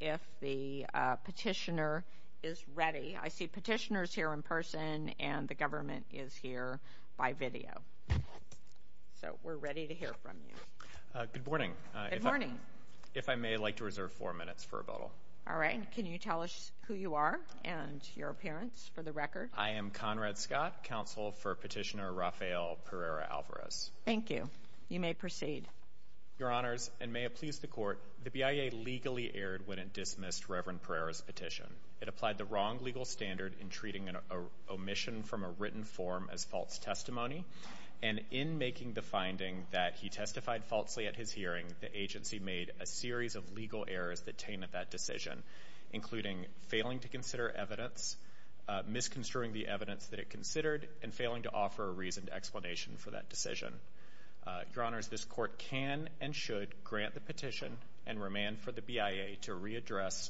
if the petitioner is ready. I see petitioners here in person and the government is here by video. So we're ready to hear from you. Good morning. Good morning. If I may, I'd like to reserve four minutes for rebuttal. All right. Can you tell us who you are and your appearance for the record? I am Conrad Scott, counsel for petitioner Rafael Pereira-Alvarez. Thank you. You may proceed. Your Honors, and may it please the Court, the BIA legally erred when it dismissed Reverend Pereira's petition. It applied the wrong legal standard in treating an omission from a written form as false testimony, and in making the finding that he testified falsely at his hearing, the agency made a series of legal errors that tainted that decision, including failing to consider evidence, misconstruing the evidence that it considered, and failing to offer a reasoned and should grant the petition and remand for the BIA to readdress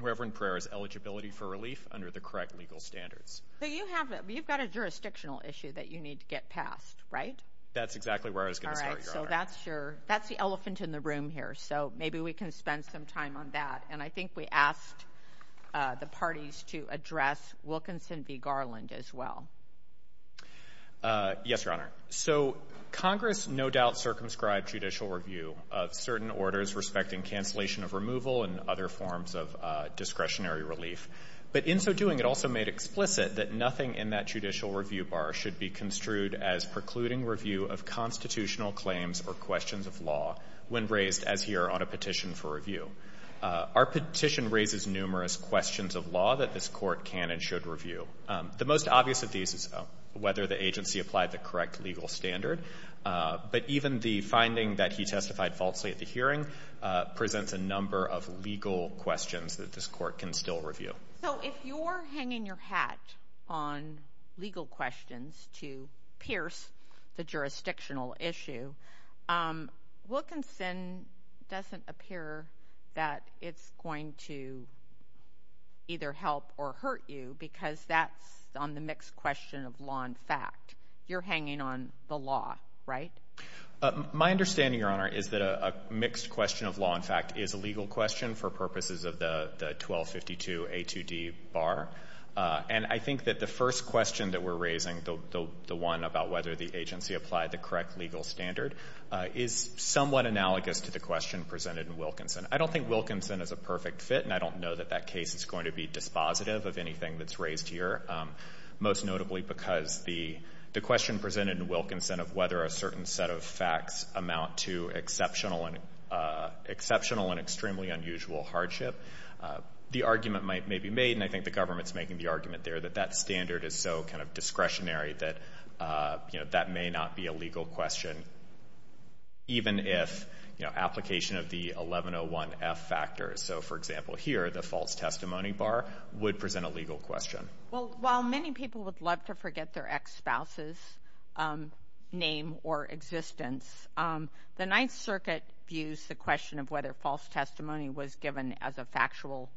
Reverend Pereira's eligibility for relief under the correct legal standards. So you've got a jurisdictional issue that you need to get passed, right? That's exactly where I was going to start, Your Honor. All right. So that's the elephant in the room here, so maybe we can spend some time on that, and I think we asked the parties to address Wilkinson v. Garland as well. Yes, Your Honor. So Congress no doubt circumscribed judicial review of certain orders respecting cancellation of removal and other forms of discretionary relief, but in so doing, it also made explicit that nothing in that judicial review bar should be construed as precluding review of constitutional claims or questions of law when raised, as here, on a petition for review. Our petition raises numerous questions of law that this Court can and should review. The most obvious of these is whether the agency applied the correct legal standard, but even the finding that he testified falsely at the hearing presents a number of legal questions that this Court can still review. So if you're hanging your hat on legal questions to pierce the jurisdictional issue, Wilkinson doesn't appear that it's going to either help or hurt you because that's on the mixed question of law and fact. You're hanging on the law, right? My understanding, Your Honor, is that a mixed question of law and fact is a legal question for purposes of the 1252 A2D bar, and I think that the first question that we're raising, the one about whether the agency applied the correct legal standard, is somewhat analogous to the question presented in Wilkinson. I don't think Wilkinson is a perfect fit, and I don't know that that case is going to be dispositive of anything that's raised here, most notably because the question presented in Wilkinson of whether a certain set of facts amount to exceptional and exceptional and extremely unusual hardship, the argument may be made, and I think the government's making the argument there, that that standard is so kind of discretionary that, you know, that may not be a legal question even if, you know, application of the 1101F factors. So, for example, here the false testimony bar would present a legal question. Well, while many people would love to forget their ex-spouse's name or existence, the Ninth Circuit views the question of whether false testimony was given as a factual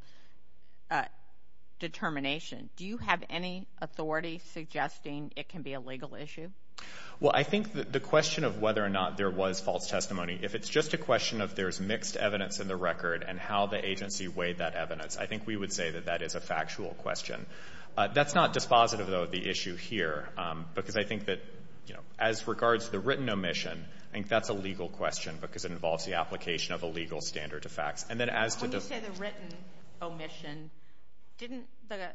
determination. Do you have any authority suggesting it can be a legal issue? Well, I think that the question of whether or not there was testimony, if it's just a question of there's mixed evidence in the record and how the agency weighed that evidence, I think we would say that that is a factual question. That's not dispositive, though, of the issue here, because I think that, you know, as regards to the written omission, I think that's a legal question because it involves the application of a legal standard to facts. And then as to the... When you say the written omission, didn't the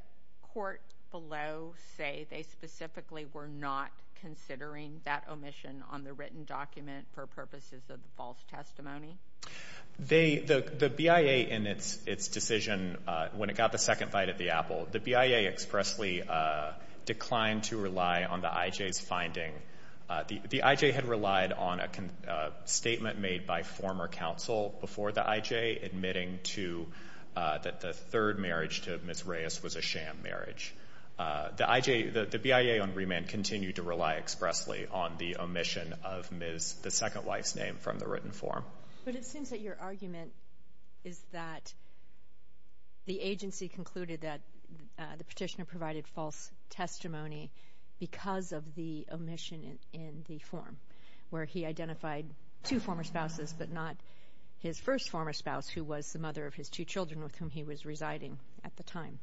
court below say they specifically were not considering that omission on the written document for purposes of the false testimony? The BIA in its decision, when it got the second bite of the apple, the BIA expressly declined to rely on the IJ's finding. The IJ had relied on a statement made by former counsel before the IJ admitting that the third marriage to Ms. Reyes was a sham marriage. The BIA on remand continued to rely expressly on the omission of Ms. the second wife's name from the written form. But it seems that your argument is that the agency concluded that the petitioner provided false testimony because of the omission in the form, where he identified two former spouses, but not his first former spouse, who was the mother of his two children with whom he was residing at the time.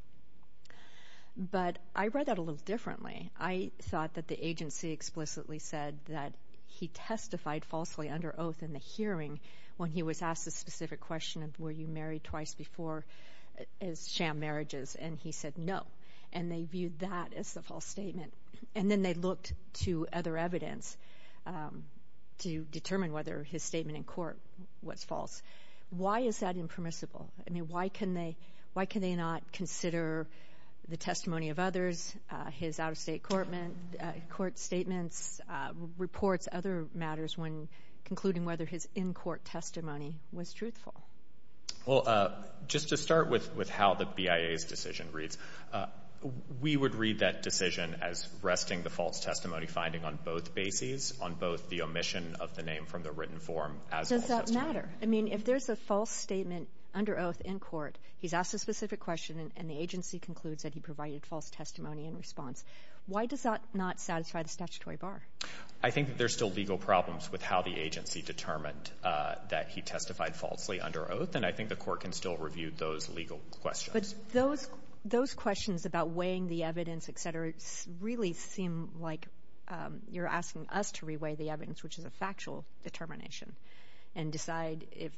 But I read that a little differently. I thought that the agency explicitly said that he testified falsely under oath in the hearing when he was asked a specific question of were you married twice before as sham marriages, and he said no. And they viewed that as the false statement, and then they looked to other evidence to determine whether his statement in court was false. Why is that impermissible? I mean, why can they not consider the testimony of others, his out-of-state court statements, reports, other matters when concluding whether his in-court testimony was truthful? Well, just to start with how the BIA's decision reads, we would read that decision as resting the false testimony finding on both bases, on both the omission of the name from the written form as false testimony. Does that matter? I mean, if there's a false statement under oath in court, he's asked a specific question, and the agency concludes that he provided false testimony in response. Why does that not satisfy the statutory bar? I think that there's still legal problems with how the agency determined that he testified falsely under oath, and I think the court can review those legal questions. But those questions about weighing the evidence, et cetera, really seem like you're asking us to re-weigh the evidence, which is a factual determination, and decide if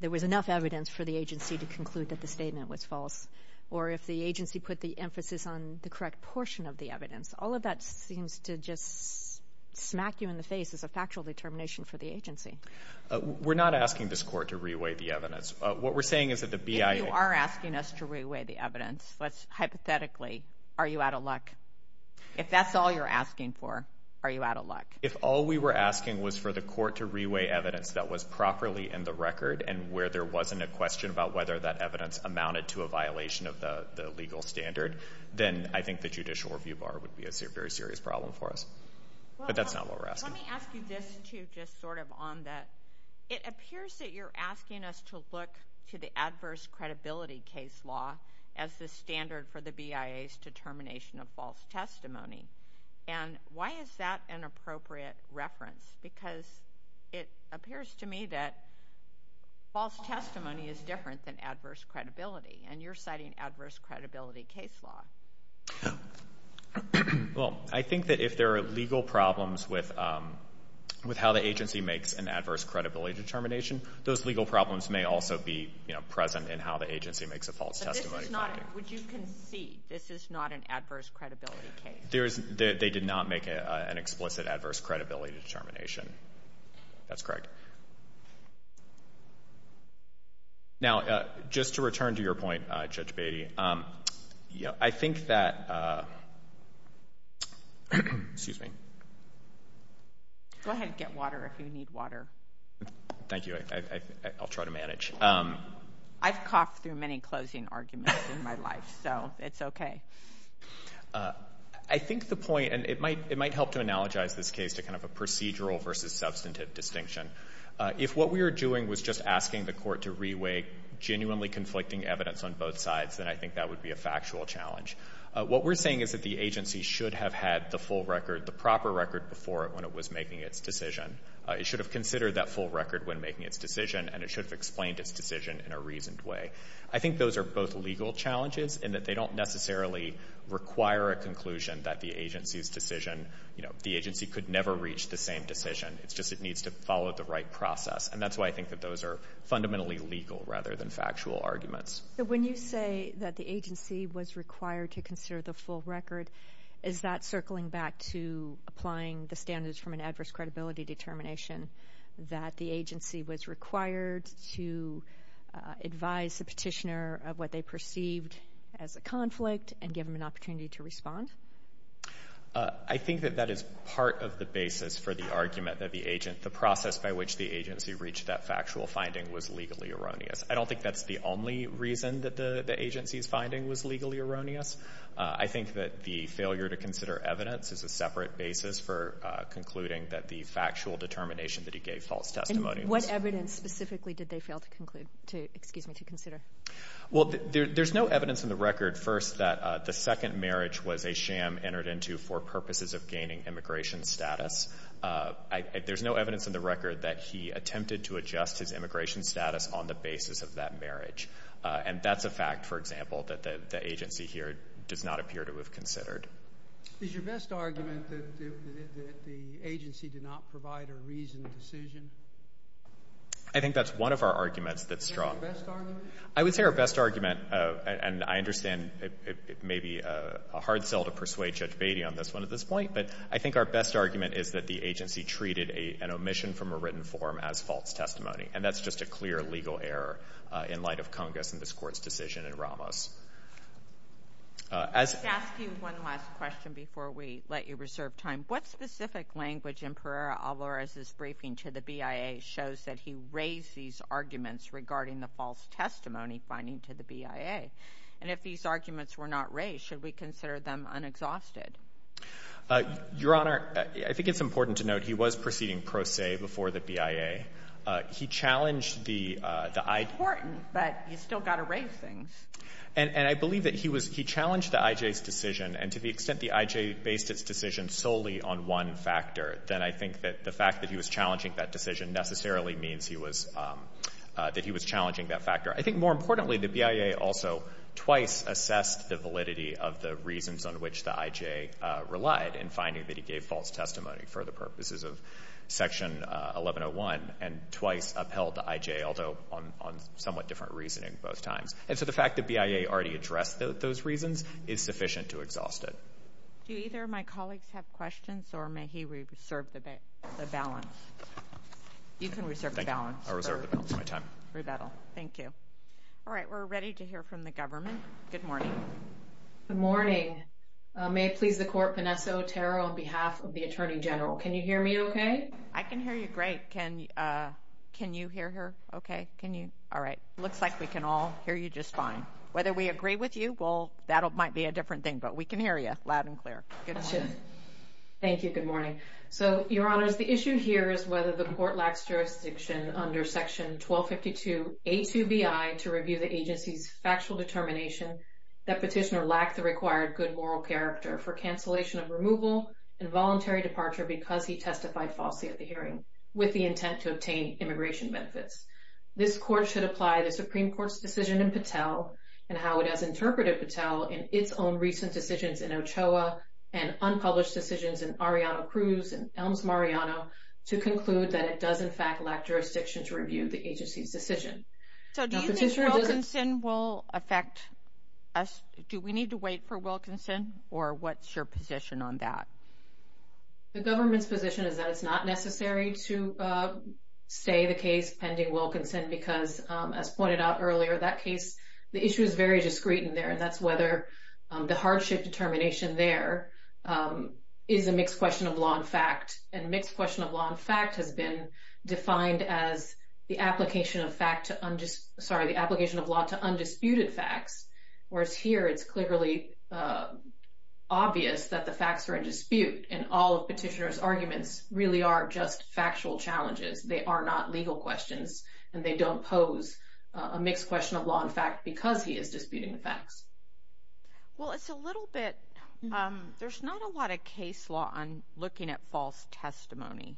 there was enough evidence for the agency to conclude that the statement was false, or if the agency put the emphasis on the correct portion of the evidence. All of that seems to just smack you in the face as a factual determination for the agency. We're not asking this court to re-weigh the evidence. What we're saying is that the BIA... If you are asking us to re-weigh the evidence, hypothetically, are you out of luck? If that's all you're asking for, are you out of luck? If all we were asking was for the court to re-weigh evidence that was properly in the record, and where there wasn't a question about whether that evidence amounted to a violation of the legal standard, then I think the judicial review bar would be a very serious problem for us. But that's not what we're asking. Let me ask you this, too, just sort of on that. It appears that you're asking us to look to the adverse credibility case law as the standard for the BIA's determination of false testimony. And why is that an appropriate reference? Because it appears to me that false testimony is different than adverse credibility, and you're citing adverse credibility case law. Well, I think that if there are legal problems with how the agency makes an adverse credibility determination, those legal problems may also be, you know, present in how the agency makes a false testimony. But this is not, would you concede, this is not an adverse credibility case? There is, they did not make an explicit adverse credibility determination. That's correct. Now, just to return to your point, Judge Beatty, you know, I think that, excuse me. Go ahead and get water if you need water. Thank you, I'll try to manage. I've coughed through many closing arguments in my life, so it's okay. I think the point, and it might help to analogize this case to kind of a procedural versus substantive distinction. If what we were doing was just asking the court to reweigh genuinely conflicting evidence on both sides, then I think that would be a factual challenge. What we're saying is that the agency should have had the full record, the proper record before it when it was making its decision. It should have considered that full record when making its decision, and it should have explained its decision in a reasoned way. I think those are both legal challenges in that they don't necessarily require a conclusion that the agency's decision. It's just it needs to follow the right process, and that's why I think that those are fundamentally legal rather than factual arguments. When you say that the agency was required to consider the full record, is that circling back to applying the standards from an adverse credibility determination that the agency was required to advise the petitioner of what they perceived as a conflict and give them an opportunity to respond? I think that that is part of the basis for the argument that the agent, the process by which the agency reached that factual finding was legally erroneous. I don't think that's the only reason that the agency's finding was legally erroneous. I think that the failure to consider evidence is a separate basis for concluding that the factual determination that he gave false testimony. And what evidence specifically did they fail to conclude to, excuse me, to consider? Well, there's no evidence in the record that he attempted to adjust his immigration status on the basis of that marriage. And that's a fact, for example, that the agency here does not appear to have considered. Is your best argument that the agency did not provide a reasoned decision? I think that's one of our arguments that's strong. I would say our best argument, and I understand it may be a hard sell to persuade Judge Beatty on this one at this point, but I think our best argument is that the agency treated an omission from a written form as false testimony. And that's just a clear legal error in light of Congress and this Court's decision in Ramos. I'd like to ask you one last question before we let you reserve time. What specific language in Pereira Alvarez's briefing to the BIA shows that he raised these arguments regarding the false testimony finding to the BIA? And if these are true, why was he then exhausted? Your Honor, I think it's important to note he was proceeding pro se before the BIA. He challenged the IJ. It's important, but you still got to raise things. And I believe that he was — he challenged the IJ's decision. And to the extent the IJ based its decision solely on one factor, then I think that the fact that he was challenging that decision necessarily means he was — that he was challenging that factor. I think more importantly, the BIA also twice assessed the validity of the reasons on which the IJ relied in finding that he gave false testimony for the purposes of Section 1101 and twice upheld the IJ, although on somewhat different reasoning both times. And so the fact the BIA already addressed those reasons is sufficient to exhaust it. Do either of my colleagues have questions, or may he reserve the balance? You can reserve the balance. I reserve the balance of my time. Rebuttal. Thank you. All right. We're ready to hear from the government. Good morning. Good morning. May it please the Court, Vanessa Otero on behalf of the Attorney General. Can you hear me okay? I can hear you great. Can you hear her okay? Can you — all right. Looks like we can all hear you just fine. Whether we agree with you, well, that might be a different thing, but we can hear you loud and clear. Good morning. Thank you. Good morning. So, Your Honors, the issue here is whether the Court lacks jurisdiction under Section 1252A2BI to review the agency's factual determination that Petitioner lacked the required good moral character for cancellation of removal and voluntary departure because he testified falsely at the hearing with the intent to obtain immigration benefits. This Court should apply the Supreme Court's decision in Patel and how it has interpreted Patel in its own recent decisions in Ochoa and unpublished decisions in Arellano Cruz and Elms Mariano to conclude that it does, in fact, lack jurisdiction to review the agency's decision. So, do you think Wilkinson will affect us? Do we need to wait for Wilkinson, or what's your position on that? The government's position is that it's not necessary to stay the case pending Wilkinson because, as pointed out earlier, that case — the issue is very discreet in there, and that's whether the hardship determination there is a mixed question of law and fact, and mixed question of law and fact has been defined as the application of fact to — sorry, the application of law to undisputed facts, whereas here it's clearly obvious that the facts are in dispute, and all of Petitioner's arguments really are just factual challenges. They are not legal questions, and they don't pose a mixed question of law and fact because he is disputing the facts. Well, it's a little bit — there's not a lot of case law on looking at false testimony,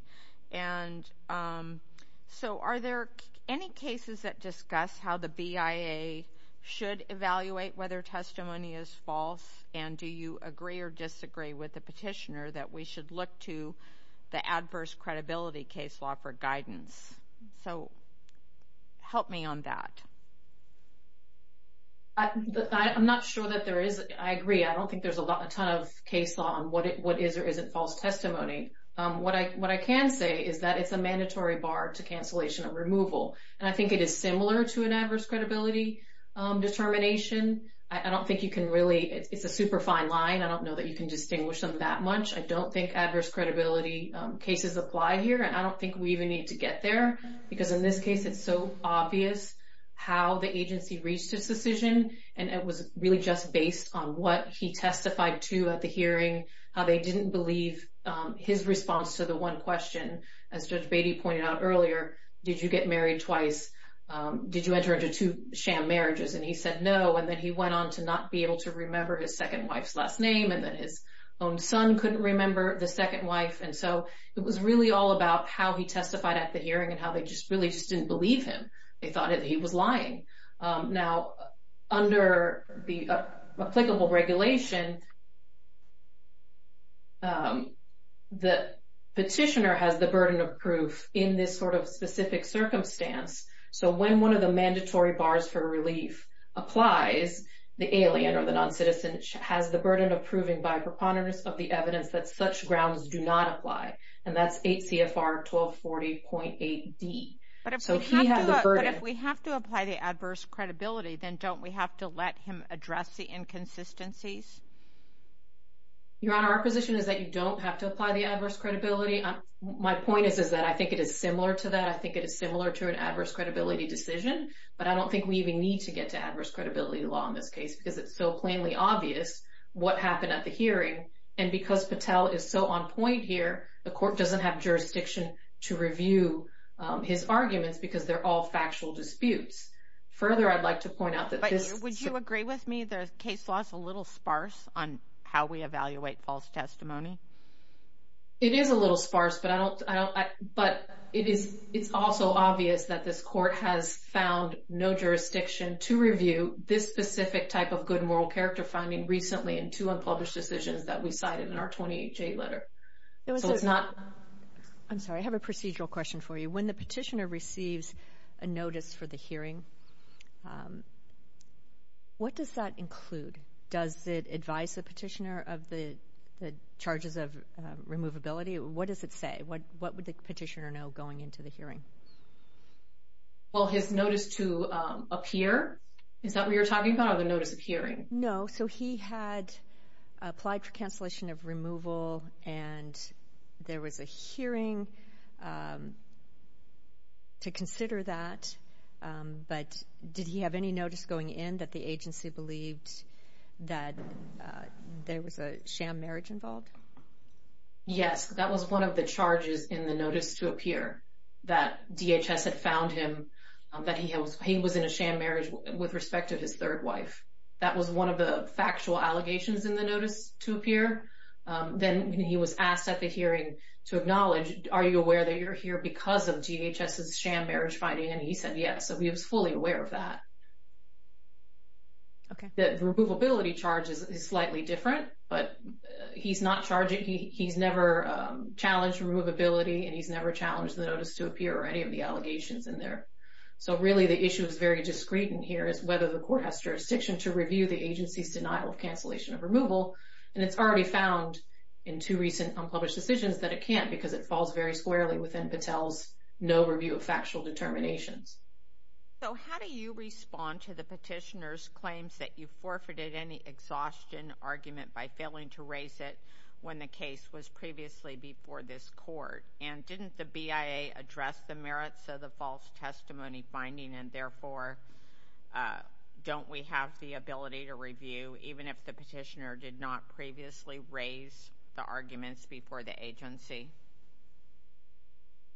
and so are there any cases that discuss how the BIA should evaluate whether testimony is false, and do you agree or disagree with the Petitioner that we should look to the adverse credibility case law for guidance? So, help me on that. I'm not sure that there is — I agree. I don't think there's a ton of case law on what is or isn't false testimony. What I can say is that it's a mandatory bar to cancellation of removal, and I think it is similar to an adverse credibility determination. I don't think you can really — it's a super fine line. I don't know that you can distinguish them that much. I don't think adverse credibility cases apply here, and I don't think we even need to get there because in this case, it's so obvious how the agency reached its decision, and it was really just based on what he testified to at the hearing, how they didn't believe his response to the one question. As Judge Beatty pointed out earlier, did you get married twice? Did you enter into two sham marriages? And he said no, and then he went on to not be able to remember his second wife's last name, and then his own son couldn't remember the second wife, and so it was really all about how he testified at the hearing and how they just really just didn't believe him. They thought that he was lying. Now, under the applicable regulation, the petitioner has the burden of proof in this sort of specific circumstance, so when one of the mandatory bars for relief applies, the alien or the noncitizen has the and that's 8 CFR 1240.8D. But if we have to apply the adverse credibility, then don't we have to let him address the inconsistencies? Your Honor, our position is that you don't have to apply the adverse credibility. My point is that I think it is similar to that. I think it is similar to an adverse credibility decision, but I don't think we even need to get to adverse credibility law in this case because it's so plainly obvious what happened at the hearing, and because Patel is so on point here, the court doesn't have jurisdiction to review his arguments because they're all factual disputes. Further, I'd like to point out that this... Would you agree with me there's case laws a little sparse on how we evaluate false testimony? It is a little sparse, but it's also obvious that this court has found no jurisdiction to review this specific type of good moral character finding recently in two unpublished decisions that we cited in our 28J letter. So it's not... I'm sorry, I have a procedural question for you. When the petitioner receives a notice for the hearing, what does that include? Does it advise the petitioner of the charges of removability? What does it say? What would the petitioner know going into the hearing? Well, his notice to appear, is that what you're talking about, or the notice of hearing? No, so he had applied for cancellation of removal, and there was a hearing to consider that, but did he have any notice going in that the agency believed that there was a sham marriage involved? Yes, that was one of the charges in the notice to appear, that DHS had found him, that he was in a sham marriage with respect to his third wife. That was one of the factual allegations in the notice to appear. Then he was asked at the hearing to acknowledge, are you aware that you're here because of DHS's sham marriage finding? And he said yes, so he was fully aware of that. Okay. The removability charge is slightly different, but he's not charging, he's never challenged removability, and he's never challenged the notice to appear or any of the allegations in there. So really the issue is very discreet in whether the court has jurisdiction to review the agency's denial of cancellation of removal, and it's already found in two recent unpublished decisions that it can't because it falls very squarely within Patel's no review of factual determinations. So how do you respond to the petitioner's claims that you forfeited any exhaustion argument by failing to raise it when the case was previously before this court, and didn't the BIA address the merits of the false testimony finding and therefore don't we have the ability to review even if the petitioner did not previously raise the arguments before the agency?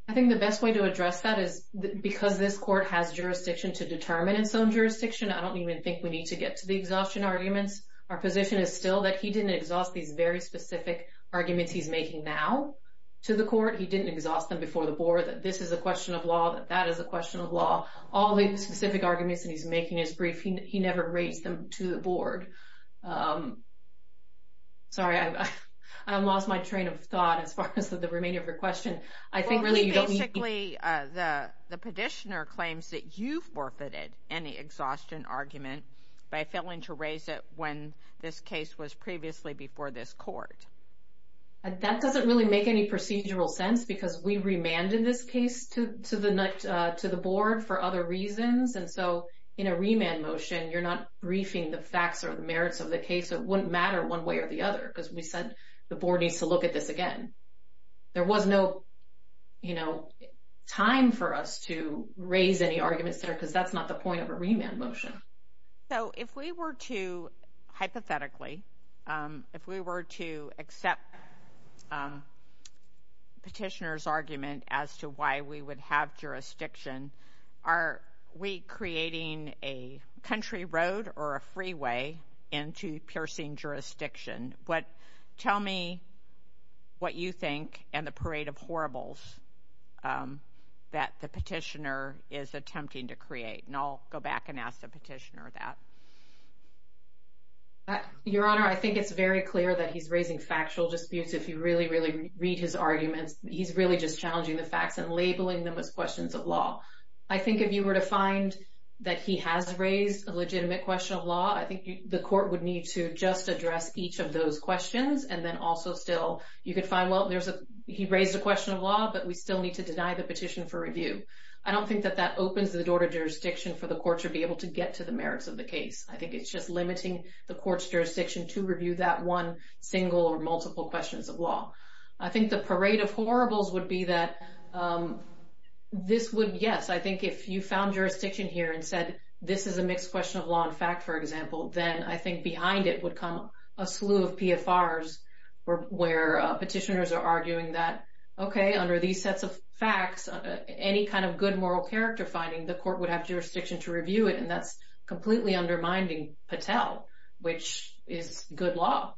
I think the best way to address that is because this court has jurisdiction to determine its own jurisdiction, I don't even think we need to get to the exhaustion arguments. Our position is still that he didn't exhaust these very specific arguments he's making now to the court, he didn't exhaust them before the board, that this is a question of law, that that is a question of law, all the specific arguments that he's making is brief, he never raised them to the board. Sorry, I lost my train of thought as far as the remainder of your question. I think really you don't need... Well, basically the petitioner claims that you forfeited any exhaustion argument by failing to raise it when this case was previously before this court. That doesn't really make any procedural sense because we remanded this case to the board for other reasons and so in a remand motion you're not briefing the facts or the merits of the case, it wouldn't matter one way or the other because we said the board needs to look at this again. There was no, you know, time for us to raise any arguments there because that's not the point of a remand motion. So if we were to, hypothetically, if we were to accept petitioner's argument as to why we would have jurisdiction, are we creating a country road or a freeway into piercing jurisdiction? Tell me what you think and the parade of horribles that the petitioner is attempting to create and I'll go back and ask the petitioner that. Your Honor, I think it's very clear that he's raising factual disputes. If you really, really read his arguments, he's really just challenging the facts and labeling them as questions of law. I think if you were to find that he has raised a legitimate question of law, I think the court would need to just address each of those questions and then also still, you could find, well, he raised a question of law but we still need to deny the petition for review. I don't think that that opens the door to jurisdiction for the court to be able to get to the merits of the case. I think it's just limiting the court's jurisdiction to review that one single or multiple questions of law. I think the parade of horribles would be that this would, yes, I think if you found jurisdiction here and said this is a mixed question of law and fact, for example, then I think behind it would come a slew of PFRs where petitioners are arguing that, okay, under these sets of facts, any kind of good moral character finding, the court would have jurisdiction to review it and that's completely undermining Patel, which is good law.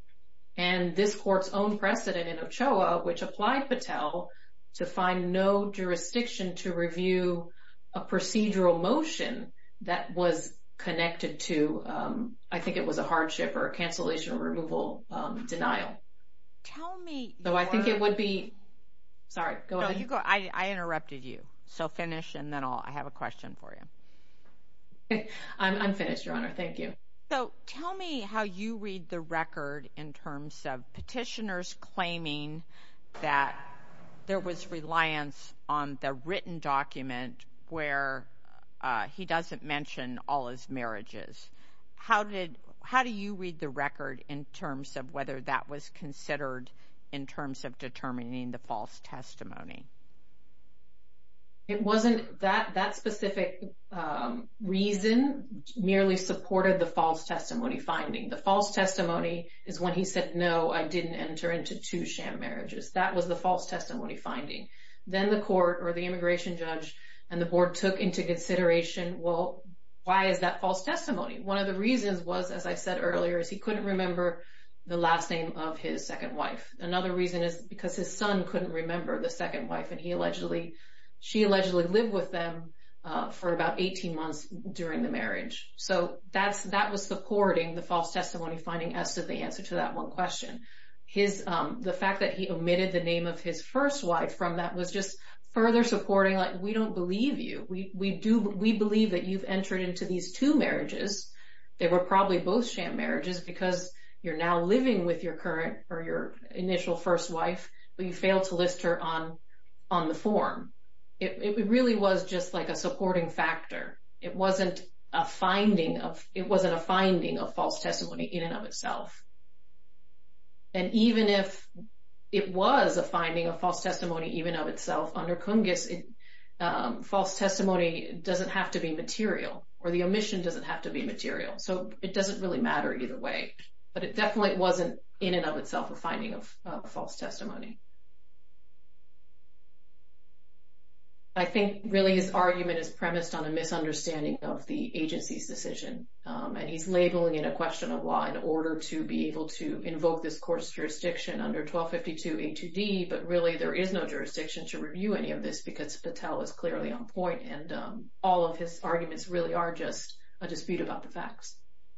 And this court's own precedent in Ochoa, which applied Patel to find no jurisdiction to review a procedural motion that was connected to, I think it was a hardship or a cancellation removal denial. So I think it would be, sorry, go ahead. No, you go. I interrupted you, so finish and then I'll, I have a question for you. I'm finished, your honor. Thank you. So tell me how you read the record in terms of petitioners claiming that there was reliance on the written document where he doesn't mention all his marriages. How did, how do you read the record in terms of whether that was considered in terms of determining the false testimony? It wasn't that that specific reason merely supported the false testimony finding. The false testimony is when he said, no, I didn't enter into two sham marriages. That was the false testimony finding. Then the court or the immigration judge and the board took into consideration, well, why is that false testimony? One of the reasons was, as I said earlier, is he couldn't remember the last name of his second wife. Another reason is because his son couldn't remember the second wife and he allegedly, she allegedly lived with them for about 18 months during the marriage. So that was supporting the false testimony finding as to the answer to that one question. His, the fact that he omitted the name of his first wife from that was just further supporting like, we don't believe you. We believe that you've entered into these two marriages. They were probably both sham marriages because you're now living with your current or initial first wife, but you failed to list her on the form. It really was just like a supporting factor. It wasn't a finding of, it wasn't a finding of false testimony in and of itself. And even if it was a finding of false testimony, even of itself under Cungus, false testimony doesn't have to be material or the omission doesn't have to be material. So it doesn't really matter either way, but it definitely wasn't in and of itself a finding of false testimony. I think really his argument is premised on a misunderstanding of the agency's decision. And he's labeling it a question of law in order to be able to invoke this court's jurisdiction under 1252 A2D, but really there is no jurisdiction to review any of this because Patel is clearly on point and all of his arguments really are just a dispute about the facts.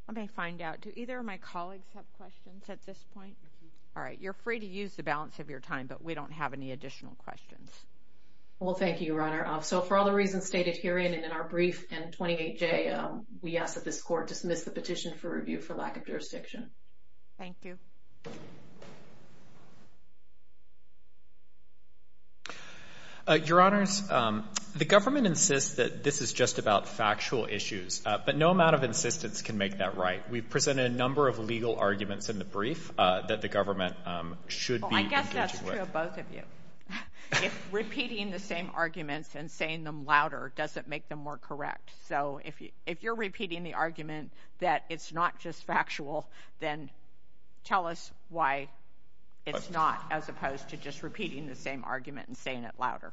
Let me find out, do either of my colleagues have questions at this point? All right. You're free to use the balance of your time, but we don't have any additional questions. Well, thank you, Your Honor. So for all the reasons stated herein and in our brief and 28J, we ask that this court dismiss the petition for review for lack of jurisdiction. Thank you. Your Honors, the government insists that this is just about factual issues, but no amount of right. We've presented a number of legal arguments in the brief that the government should be engaging with. Well, I guess that's true of both of you. If repeating the same arguments and saying them louder doesn't make them more correct. So if you're repeating the argument that it's not just factual, then tell us why it's not as opposed to just repeating the same argument and saying it louder.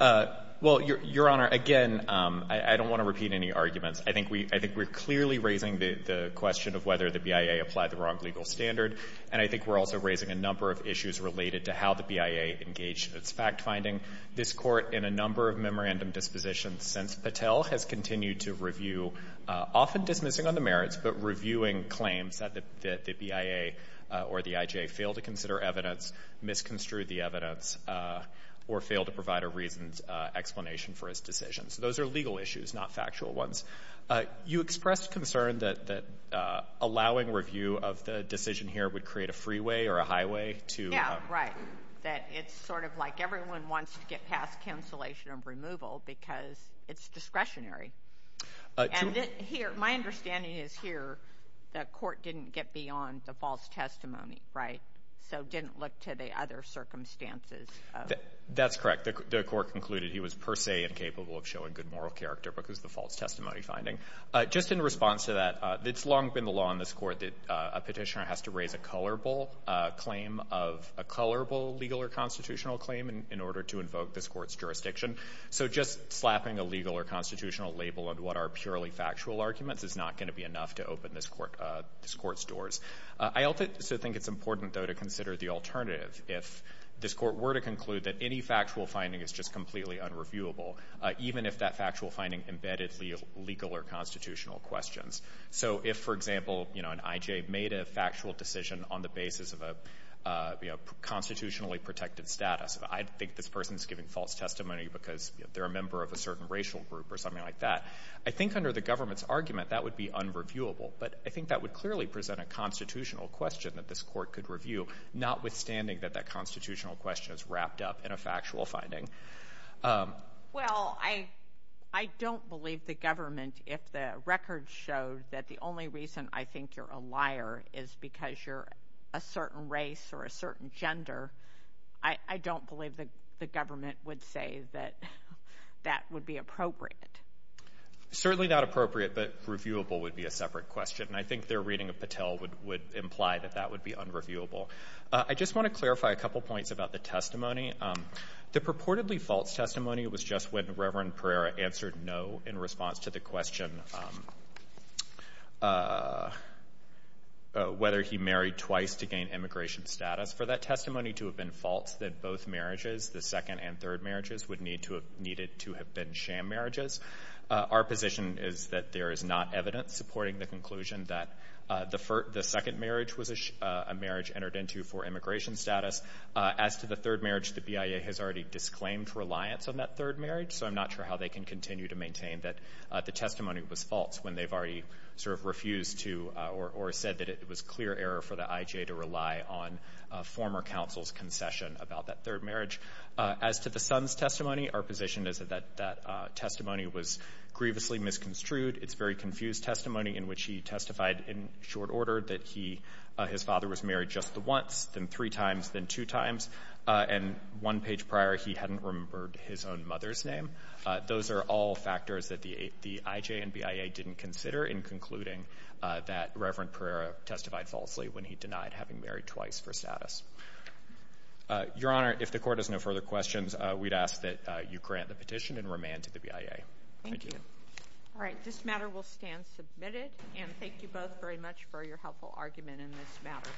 Well, Your Honor, again, I don't want to repeat any arguments. I think we're clearly raising the question of whether the BIA applied the wrong legal standard, and I think we're also raising a number of issues related to how the BIA engaged in its fact-finding. This court, in a number of memorandum dispositions since Patel has continued to review, often dismissing on the merits, but reviewing claims that the BIA or the IJ failed to consider evidence, misconstrued the evidence, or failed to provide a reasoned explanation for his decision. So those are legal issues, not factual ones. You expressed concern that allowing review of the decision here would create a freeway or a highway to... Yeah, right. That it's sort of like everyone wants to get past cancellation of removal because it's discretionary. And here, my understanding is here the court didn't get beyond the false testimony, right? So didn't look to the other circumstances. That's correct. The court concluded he was per se incapable of showing good moral character because of the false testimony finding. Just in response to that, it's long been the law in this Court that a Petitioner has to raise a colorable claim of a colorable legal or constitutional claim in order to invoke this Court's jurisdiction. So just slapping a legal or constitutional label on what are purely factual arguments is not going to be enough to open this Court's doors. I also think it's important, though, to consider the alternative. If this Court were to conclude that any factual finding is just completely unreviewable, even if that factual finding embedded legal or constitutional questions. So if, for example, you know, an I.J. made a factual decision on the basis of a, you know, constitutionally protected status, I think this person's giving false testimony because they're a member of a certain racial group or something like that. I think under the government's argument, that would be unreviewable. But I think that would clearly present a that that constitutional question is wrapped up in a factual finding. Well, I don't believe the government, if the record showed that the only reason I think you're a liar is because you're a certain race or a certain gender, I don't believe that the government would say that that would be appropriate. Certainly not appropriate, but reviewable would be a separate question. And I think their reading of Patel would imply that that would be unreviewable. I just want to clarify a couple points about the testimony. The purportedly false testimony was just when Reverend Pereira answered no in response to the question whether he married twice to gain immigration status. For that testimony to have been false, then both marriages, the second and third marriages, would need to have needed to have been sham marriages. Our position is that there is not evidence supporting the conclusion that the second marriage was a marriage entered into for immigration status. As to the third marriage, the BIA has already disclaimed reliance on that third marriage, so I'm not sure how they can continue to maintain that the testimony was false when they've already sort of refused to or said that it was clear error for the IJ to rely on former counsel's concession about that third marriage. As to the son's testimony, our position is that that testimony was grievously misconstrued. It's very confused testimony in which he testified in short order that he, his father was married just the once, then three times, then two times, and one page prior he hadn't remembered his own mother's name. Those are all factors that the IJ and BIA didn't consider in concluding that Reverend Pereira testified falsely when he denied having married twice for status. Your Honor, if the Court has no further questions, we'd ask that you grant the petition and remand to the BIA. Thank you. All right, this matter will stand submitted, and thank you both very much for your helpful argument in this matter.